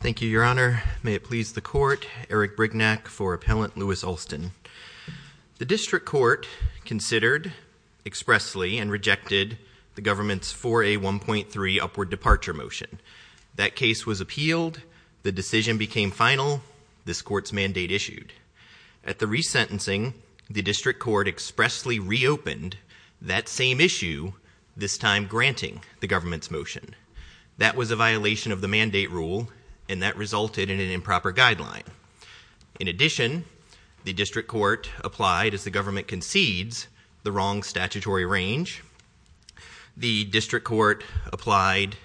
Thank you, Your Honor. May it please the Court, Eric Brignac for Appellant Lewis Alston. The District Court considered expressly and rejected the government's 4A1.3 upward departure motion. That case was appealed, the decision became final, this Court's mandate issued. At the resentencing, the District Court expressly reopened that same issue, this time granting the government's motion. That was a violation of the mandate rule, and that resulted in an improper guideline. In addition, the District Court applied, as the government concedes, the wrong statutory range. The District Court applied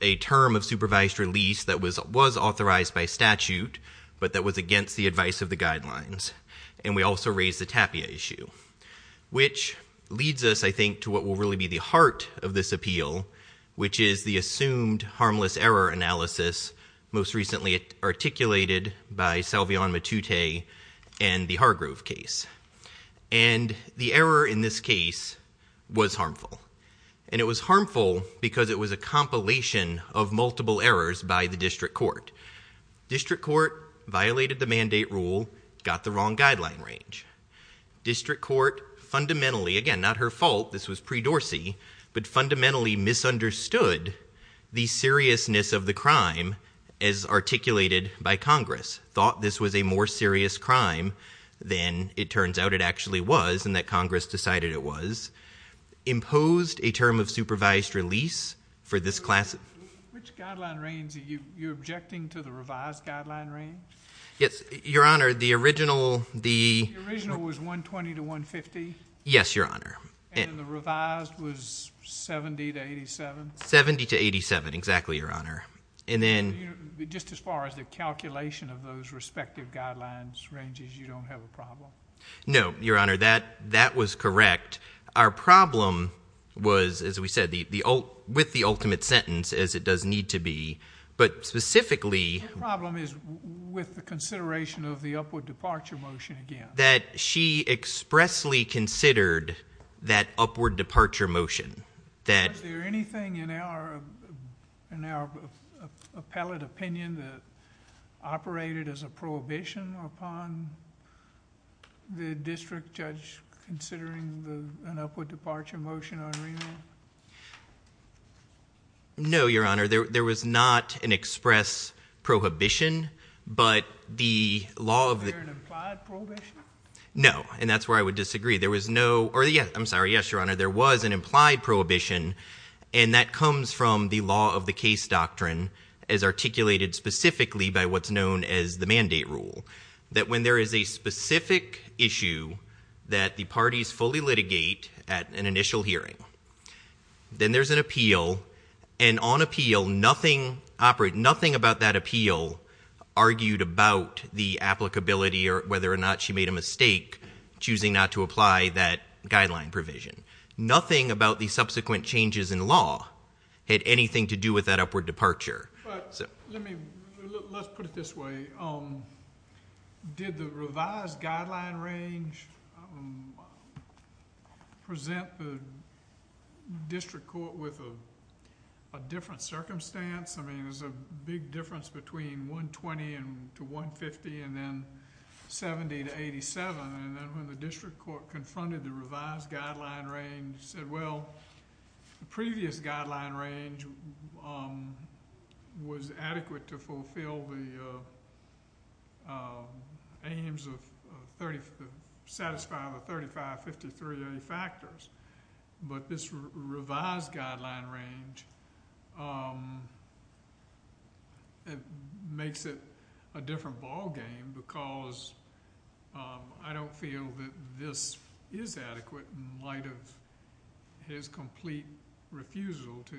a term of supervised release that was authorized by statute, but that was against the advice of the guidelines. And we also raised the tapia issue, which leads us, I think, to what will really be the heart of this appeal, which is the assumed harmless error analysis most recently articulated by Salveon Matute and the Hargrove case. And the error in this case was harmful. And it was harmful because it was a compilation of multiple errors by the District Court. District Court violated the mandate rule, got the wrong guideline range. District Court fundamentally, again, not her fault, this was pre-Dorsey, but fundamentally misunderstood the seriousness of the crime as articulated by Congress, thought this was a more serious crime than it turns out it actually was and that Congress decided it was, imposed a term of supervised release for this class. Which guideline range are you objecting to, the revised guideline range? Yes, Your Honor, the original, the- The original was 120 to 150? Yes, Your Honor. And the revised was 70 to 87? 70 to 87, exactly, Your Honor. And then- Just as far as the calculation of those respective guidelines ranges, you don't have a problem? No, Your Honor, that was correct. Our problem was, as we said, with the ultimate sentence as it does need to be, but specifically- Your problem is with the consideration of the upward departure motion again. That she expressly considered that upward departure motion, that- Was there anything in our appellate opinion that operated as a prohibition upon the district judge considering an upward departure motion on remand? No, Your Honor, there was not an express prohibition, but the law of- Was there an implied prohibition? No, and that's where I would disagree. There was no, or yes, I'm sorry, yes, Your Honor. There was an implied prohibition, and that comes from the law of the case doctrine as articulated specifically by what's known as the mandate rule. That when there is a specific issue that the parties fully litigate at an initial hearing, then there's an appeal, and on appeal, nothing about that appeal argued about the applicability or whether or not she made a mistake choosing not to apply that guideline provision. Nothing about the subsequent changes in law had anything to do with that upward departure. Let's put it this way. Did the revised guideline range present the district court with a different circumstance? I mean, there's a big difference between 120 to 150 and then 70 to 87, and then when the district court confronted the revised guideline range, and said, well, the previous guideline range was adequate to fulfill the aims of 30, satisfy the 3553A factors, but this revised guideline range makes it a different ballgame because I don't feel that this is adequate in light of his complete refusal to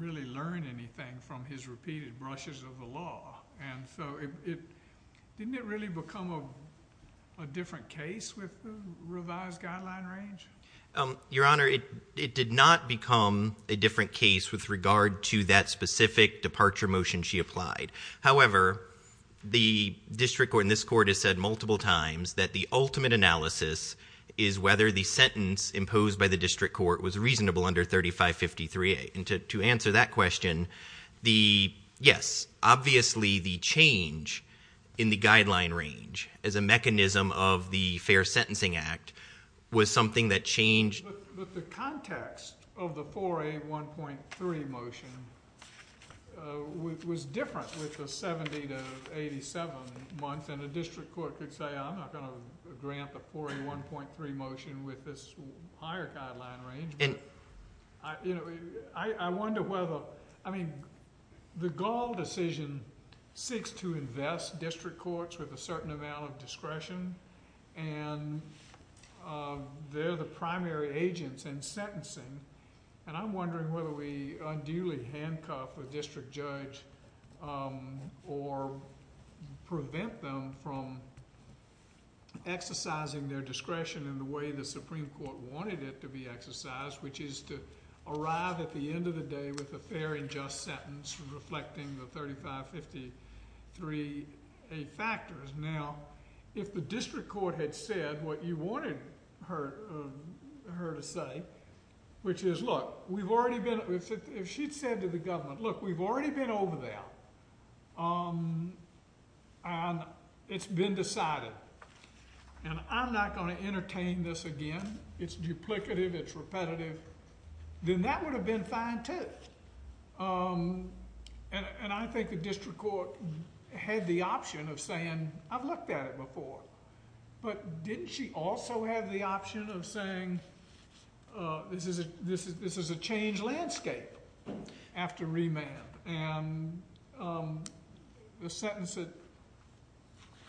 really learn anything from his repeated brushes of the law. And so didn't it really become a different case with the revised guideline range? Your Honor, it did not become a different case with regard to that specific departure motion she applied. However, the district court in this court has said multiple times that the ultimate analysis is whether the sentence imposed by the district court was reasonable under 3553A. And to answer that question, yes, obviously the change in the guideline range as a mechanism of the Fair Sentencing Act was something that changed. But the context of the 4A1.3 motion was different with the 70 to 87 months, and the district court could say I'm not going to grant the 4A1.3 motion with this higher guideline range. I wonder whether, I mean, the Gall decision seeks to invest district courts with a certain amount of discretion, and they're the primary agents in sentencing. And I'm wondering whether we unduly handcuff a district judge or prevent them from exercising their discretion in the way the Supreme Court wanted it to be exercised, which is to arrive at the end of the day with a fair and just sentence reflecting the 3553A factors. Now, if the district court had said what you wanted her to say, which is, look, we've already been, if she'd said to the government, look, we've already been over that, and it's been decided, and I'm not going to entertain this again, it's duplicative, it's repetitive, then that would have been fine, too. And I think the district court had the option of saying I've looked at it before. But didn't she also have the option of saying this is a changed landscape after remand? And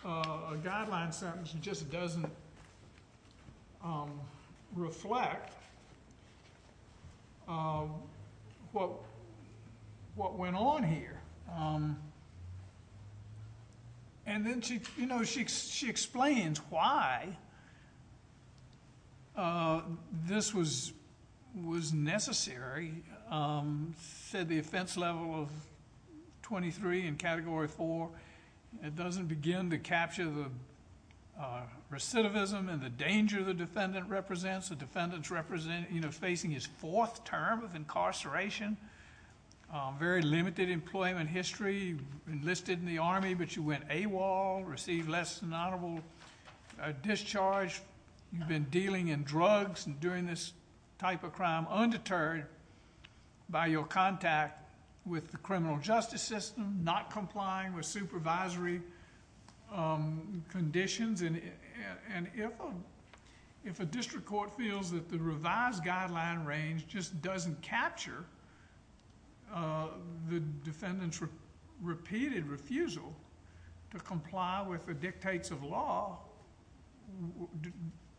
a guideline sentence just doesn't reflect what went on here. And then she explains why this was necessary, said the offense level of 23 in Category 4, it doesn't begin to capture the recidivism and the danger the defendant represents. The defendant's facing his fourth term of incarceration, very limited employment history, enlisted in the Army but you went AWOL, received less than honorable discharge, you've been dealing in drugs and doing this type of crime undeterred by your contact with the criminal justice system, not complying with supervisory conditions. And if a district court feels that the revised guideline range just doesn't capture the defendant's repeated refusal to comply with the dictates of law,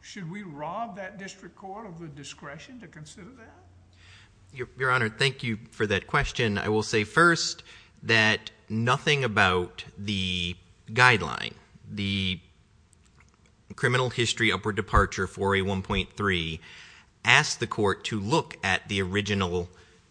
should we rob that district court of the discretion to consider that? Your Honor, thank you for that question. I will say first that nothing about the guideline, the criminal history upward departure, 4A1.3, asks the court to look at the original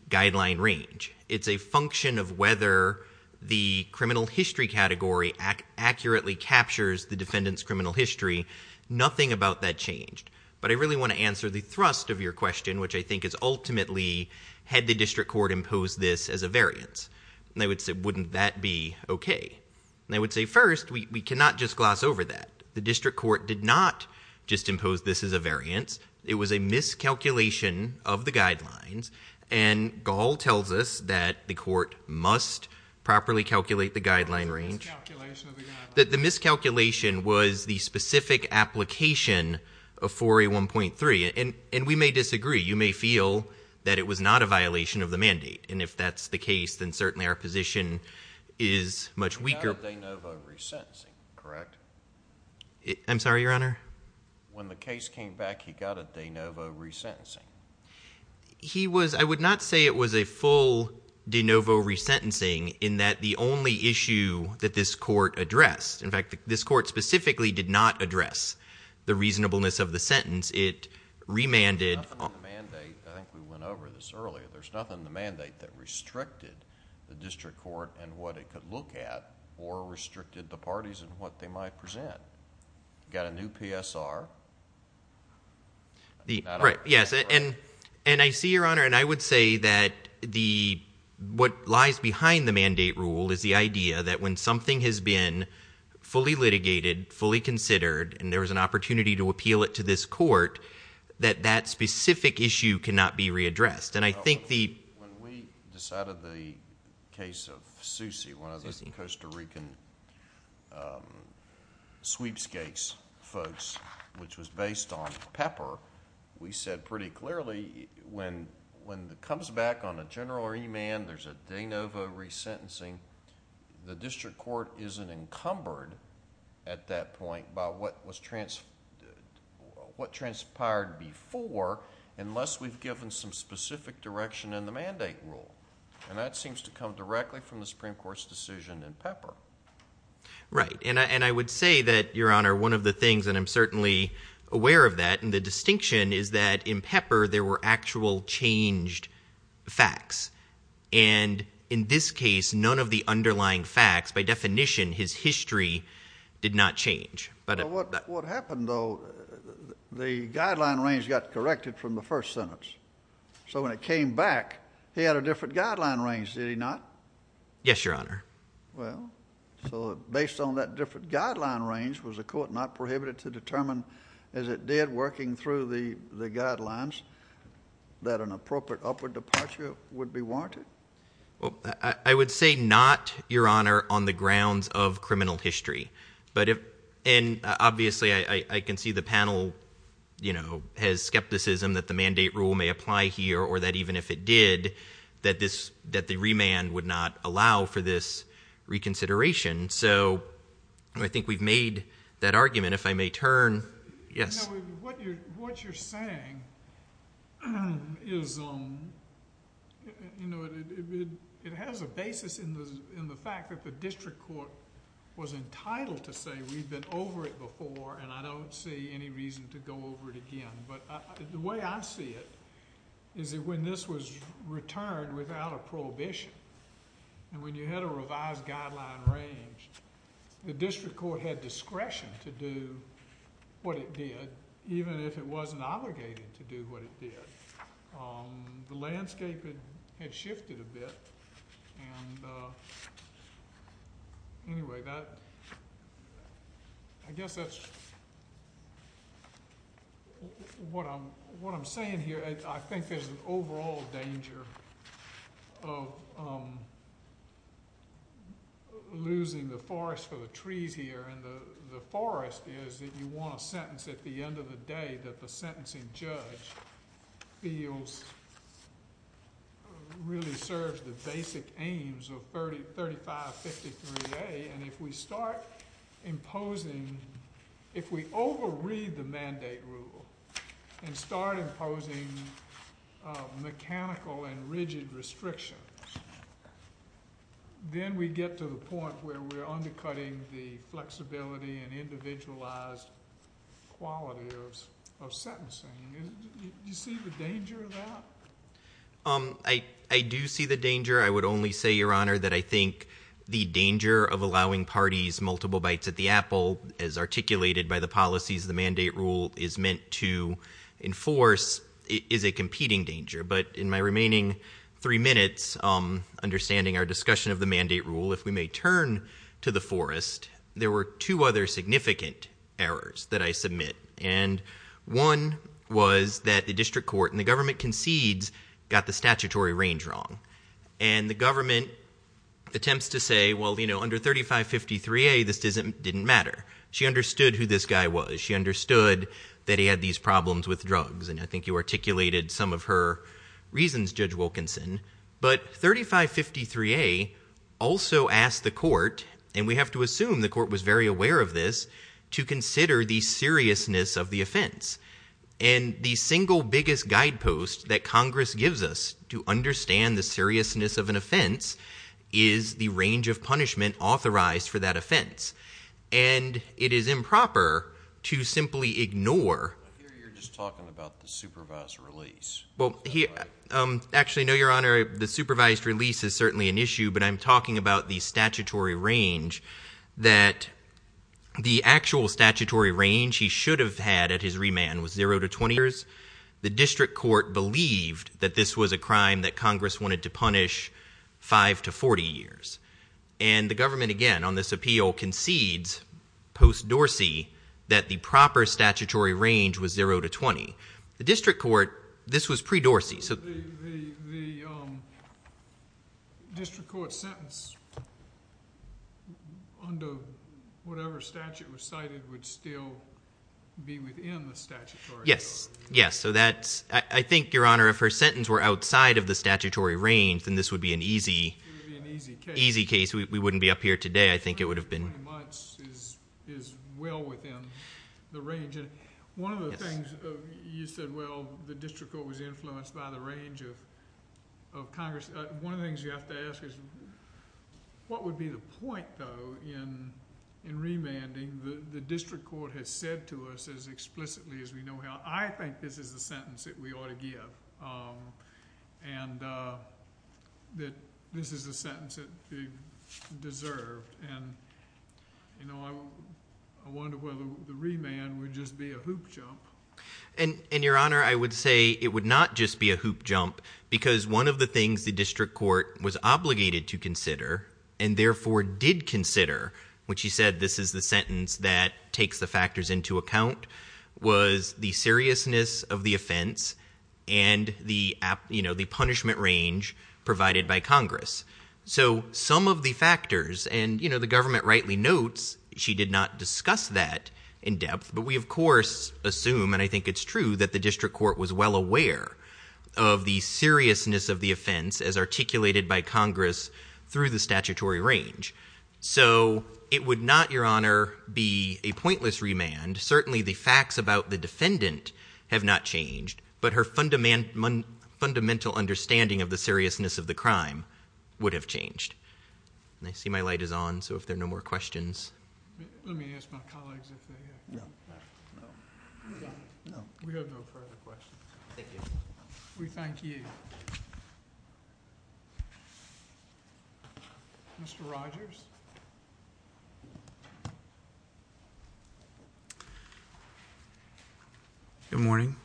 guideline range. It's a function of whether the criminal history category accurately captures the defendant's criminal history. Nothing about that changed. But I really want to answer the thrust of your question, which I think is ultimately, had the district court imposed this as a variance? And I would say, wouldn't that be okay? And I would say first, we cannot just gloss over that. The district court did not just impose this as a variance. It was a miscalculation of the guidelines. And Gahl tells us that the court must properly calculate the guideline range. The miscalculation of the guidelines. The miscalculation was the specific application of 4A1.3. And we may disagree. You may feel that it was not a violation of the mandate. And if that's the case, then certainly our position is much weaker. He got a de novo resentencing, correct? I'm sorry, Your Honor? When the case came back, he got a de novo resentencing. I would not say it was a full de novo resentencing in that the only issue that this court addressed. In fact, this court specifically did not address the reasonableness of the sentence. It remanded. There's nothing in the mandate. I think we went over this earlier. There's nothing in the mandate that restricted the district court and what it could look at or restricted the parties in what they might present. Got a new PSR. Right. Yes. And I see, Your Honor, and I would say that what lies behind the mandate rule is the idea that when something has been fully litigated, fully considered, and there was an opportunity to appeal it to this court, that that specific issue cannot be readdressed. And I think the... When we decided the case of Susie, one of the Costa Rican sweepstakes folks, which was based on Pepper, we said pretty clearly when it comes back on a general remand, there's a de novo resentencing, the district court isn't encumbered at that point by what transpired before unless we've given some specific direction in the mandate rule. And that seems to come directly from the Supreme Court's decision in Pepper. Right. And I would say that, Your Honor, one of the things, and I'm certainly aware of that, and the distinction is that in Pepper there were actual changed facts. And in this case, none of the underlying facts, by definition, his history, did not change. But what happened, though, the guideline range got corrected from the first sentence. So when it came back, he had a different guideline range, did he not? Yes, Your Honor. Well, so based on that different guideline range, was the court not prohibited to determine, as it did working through the guidelines, that an appropriate upward departure would be warranted? Well, I would say not, Your Honor, on the grounds of criminal history. And obviously I can see the panel, you know, has skepticism that the mandate rule may apply here or that even if it did, that the remand would not allow for this reconsideration. So I think we've made that argument. If I may turn. Yes. What you're saying is, you know, it has a basis in the fact that the district court was entitled to say, we've been over it before, and I don't see any reason to go over it again. But the way I see it is that when this was returned without a prohibition, and when you had a revised guideline range, the district court had discretion to do what it did, even if it wasn't obligated to do what it did. The landscape had shifted a bit. And anyway, I guess that's what I'm saying here. I think there's an overall danger of losing the forest for the trees here. And the forest is that you want a sentence at the end of the day that the sentencing judge feels really serves the basic aims of 3553A. And if we start imposing, if we overread the mandate rule and start imposing mechanical and rigid restrictions, then we get to the point where we're undercutting the flexibility and individualized quality of sentencing. Do you see the danger of that? I do see the danger. I would only say, Your Honor, that I think the danger of allowing parties multiple bites at the apple, as articulated by the policies the mandate rule is meant to enforce, is a competing danger. But in my remaining three minutes, understanding our discussion of the mandate rule, if we may turn to the forest, there were two other significant errors that I submit. And one was that the district court and the government concedes got the statutory range wrong. And the government attempts to say, Well, you know, under 3553A, this didn't matter. She understood who this guy was. She understood that he had these problems with drugs. And I think you articulated some of her reasons, Judge Wilkinson. But 3553A also asked the court, and we have to assume the court was very aware of this, to consider the seriousness of the offense. And the single biggest guidepost that Congress gives us to understand the seriousness of an offense is the range of punishment authorized for that offense. And it is improper to simply ignore. I hear you're just talking about the supervised release. Well, actually, no, Your Honor, the supervised release is certainly an issue, but I'm talking about the statutory range that the actual statutory range he should have had at his remand was 0 to 20 years. The district court believed that this was a crime that Congress wanted to punish 5 to 40 years. And the government, again, on this appeal, concedes post-Dorsey that the proper statutory range was 0 to 20. The district court, this was pre-Dorsey. So the district court sentence under whatever statute was cited would still be within the statutory range? Yes, yes. So I think, Your Honor, if her sentence were outside of the statutory range, then this would be an easy case. We wouldn't be up here today. I think it would have been... 0 to 20 months is well within the range. One of the things you said, well, the district court was influenced by the range of Congress. One of the things you have to ask is, what would be the point, though, in remanding? The district court has said to us as explicitly as we know how, I think this is the sentence that we ought to give and that this is the sentence that we deserve. And, you know, I wonder whether the remand would just be a hoop jump. And, Your Honor, I would say it would not just be a hoop jump because one of the things the district court was obligated to consider and therefore did consider when she said this is the sentence that takes the factors into account was the seriousness of the offense and the punishment range provided by Congress. So some of the factors, and the government rightly notes she did not discuss that in depth, but we of course assume, and I think it's true, that the district court was well aware of the seriousness of the offense as articulated by Congress through the statutory range. So it would not, Your Honor, be a pointless remand. Certainly the facts about the defendant have not changed, but her fundamental understanding of the seriousness of the crime would have changed. I see my light is on, so if there are no more questions... Let me ask my colleagues if they have any. We have no further questions. We thank you. Mr. Rogers. Good morning.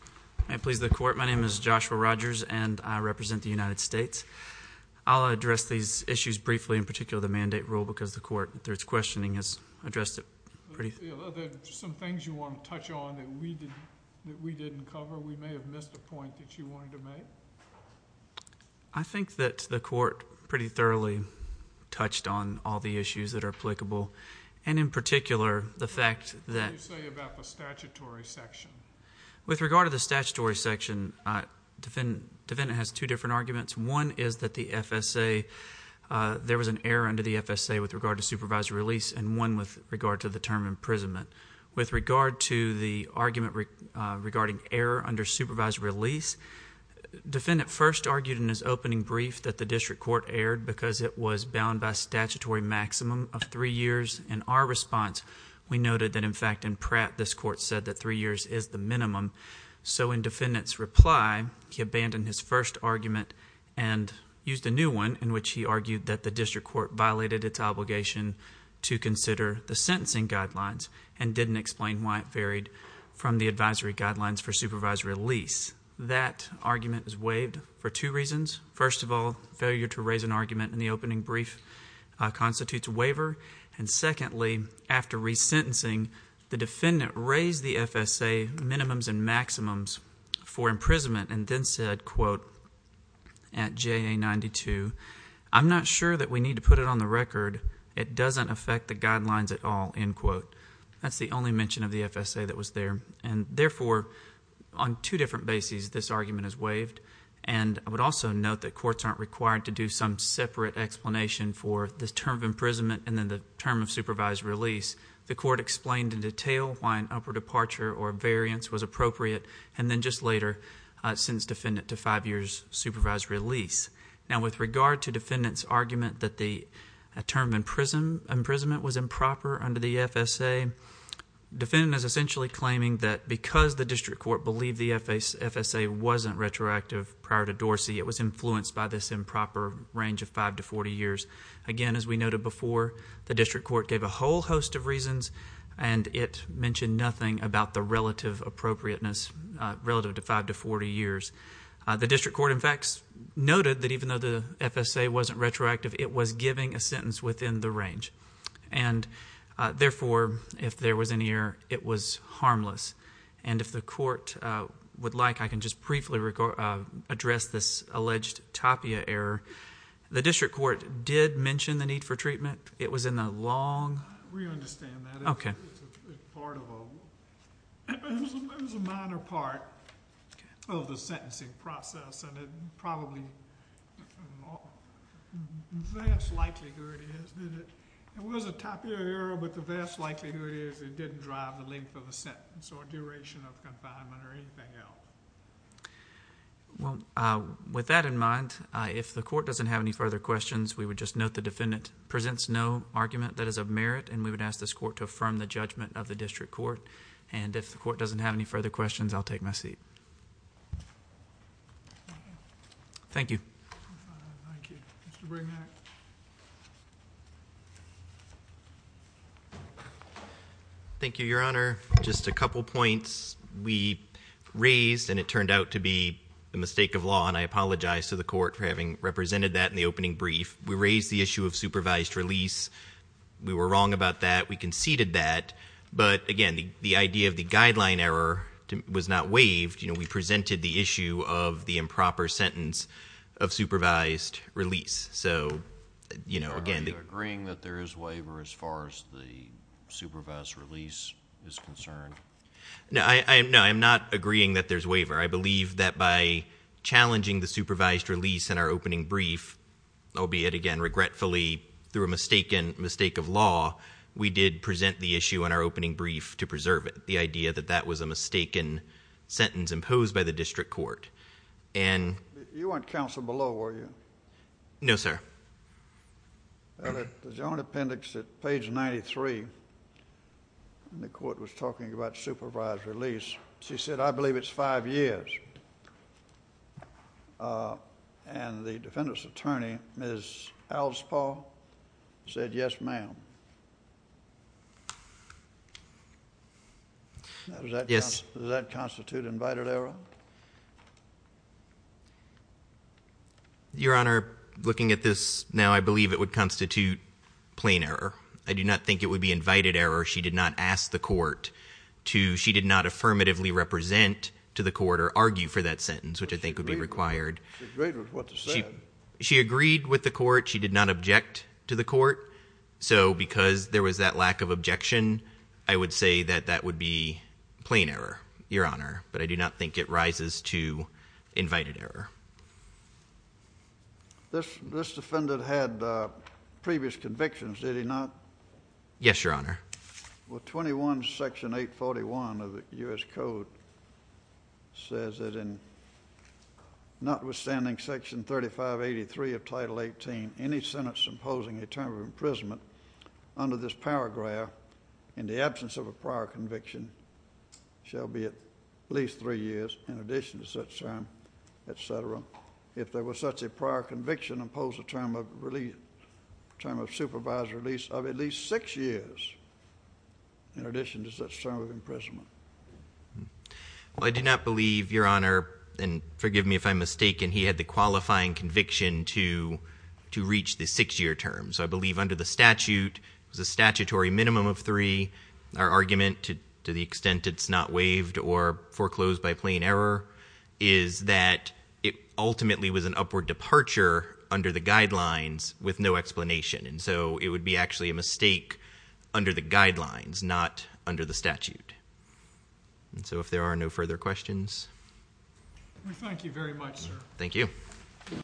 May it please the Court, my name is Joshua Rogers and I represent the United States. I'll address these issues briefly, in particular the mandate rule, because the Court, through its questioning, has addressed it pretty... Are there some things you want to touch on that we didn't cover? We may have missed a point that you wanted to make. I think that the Court pretty thoroughly touched on all the issues that are applicable, and in particular the fact that... What did you say about the statutory section? With regard to the statutory section, the defendant has two different arguments. One is that the FSA... There was an error under the FSA with regard to supervised release, and one with regard to the term imprisonment. With regard to the argument regarding error under supervised release, defendant first argued in his opening brief that the district court erred because it was bound by statutory maximum of three years. In our response, we noted that, in fact, in Pratt, this Court said that three years is the minimum. So in defendant's reply, he abandoned his first argument and used a new one in which he argued that the district court violated its obligation to consider the sentencing guidelines and didn't explain why it varied from the advisory guidelines for supervised release. That argument was waived for two reasons. First of all, failure to raise an argument in the opening brief constitutes a waiver. And secondly, after resentencing, the defendant raised the FSA minimums and maximums for imprisonment and then said, quote, at JA 92, I'm not sure that we need to put it on the record. It doesn't affect the guidelines at all, end quote. That's the only mention of the FSA that was there. And therefore, on two different bases, this argument is waived. And I would also note that courts aren't required to do some separate explanation for the term of imprisonment and then the term of supervised release. The court explained in detail why an upper departure or a variance was appropriate, and then just later sends defendant to five years supervised release. Now, with regard to defendant's argument that the term of imprisonment was improper under the FSA, defendant is essentially claiming that because the district court believed the FSA wasn't retroactive prior to Dorsey, it was influenced by this improper range of five to 40 years. Again, as we noted before, the district court gave a whole host of reasons, and it mentioned nothing about the relative appropriateness relative to five to 40 years. The district court, in fact, noted that even though the FSA wasn't retroactive, it was giving a sentence within the range. And therefore, if there was any error, it was harmless. And if the court would like, I can just briefly address this alleged Tapia error. The district court did mention the need for treatment. It was in the long... We understand that. Okay. It's part of a... It was a minor part of the sentencing process, and it probably... The vast likelihood is that it was a Tapia error, but the vast likelihood is it didn't drive the length of a sentence or duration of confinement or anything else. Well, with that in mind, if the court doesn't have any further questions, we would just note the defendant presents no argument that is of merit, and we would ask this court to affirm the judgment of the district court. And if the court doesn't have any further questions, I'll take my seat. Thank you. Thank you. Mr. Brignac. Thank you, Your Honor. Just a couple points. We raised, and it turned out to be a mistake of law, and I apologize to the court for having represented that in the opening brief. We raised the issue of supervised release. We were wrong about that. We conceded that. But, again, the idea of the guideline error was not waived. You know, we presented the issue of the improper sentence of supervised release. So, you know, again... Are you agreeing that there is waiver as far as the supervised release is concerned? No, I'm not agreeing that there's waiver. I believe that by challenging the supervised release in our opening brief, albeit, again, regretfully, through a mistake of law, we did present the issue in our opening brief to preserve it, the idea that that was a mistaken sentence imposed by the district court. You weren't counsel below, were you? No, sir. The joint appendix at page 93, the court was talking about supervised release. She said, I believe it's five years. And the defendant's attorney, Ms. Alspaugh, said, yes, ma'am. Does that constitute invited error? Your Honor, looking at this now, I believe it would constitute plain error. I do not think it would be invited error. She did not ask the court to... She did not affirmatively represent to the court or argue for that sentence, which I think would be required. She agreed with what was said. She agreed with the court. She did not object to the court. So because there was that lack of objection, I would say that that would be plain error, Your Honor. But I do not think it rises to invited error. This defendant had previous convictions, did he not? Yes, Your Honor. Well, 21 Section 841 of the U.S. Code says that in notwithstanding Section 3583 of Title 18, any sentence imposing a term of imprisonment under this paragraph in the absence of a prior conviction shall be at least three years in addition to such term, et cetera. If there was such a prior conviction, impose a term of supervisor release of at least six years in addition to such term of imprisonment. Well, I do not believe, Your Honor, and forgive me if I'm mistaken, he had the qualifying conviction to reach the six-year term. So I believe under the statute, it was a statutory minimum of three. Our argument, to the extent it's not waived or foreclosed by plain error, is that it ultimately was an upward departure under the guidelines with no explanation. And so it would be actually a mistake under the guidelines, not under the statute. And so if there are no further questions. Thank you very much, sir. Thank you.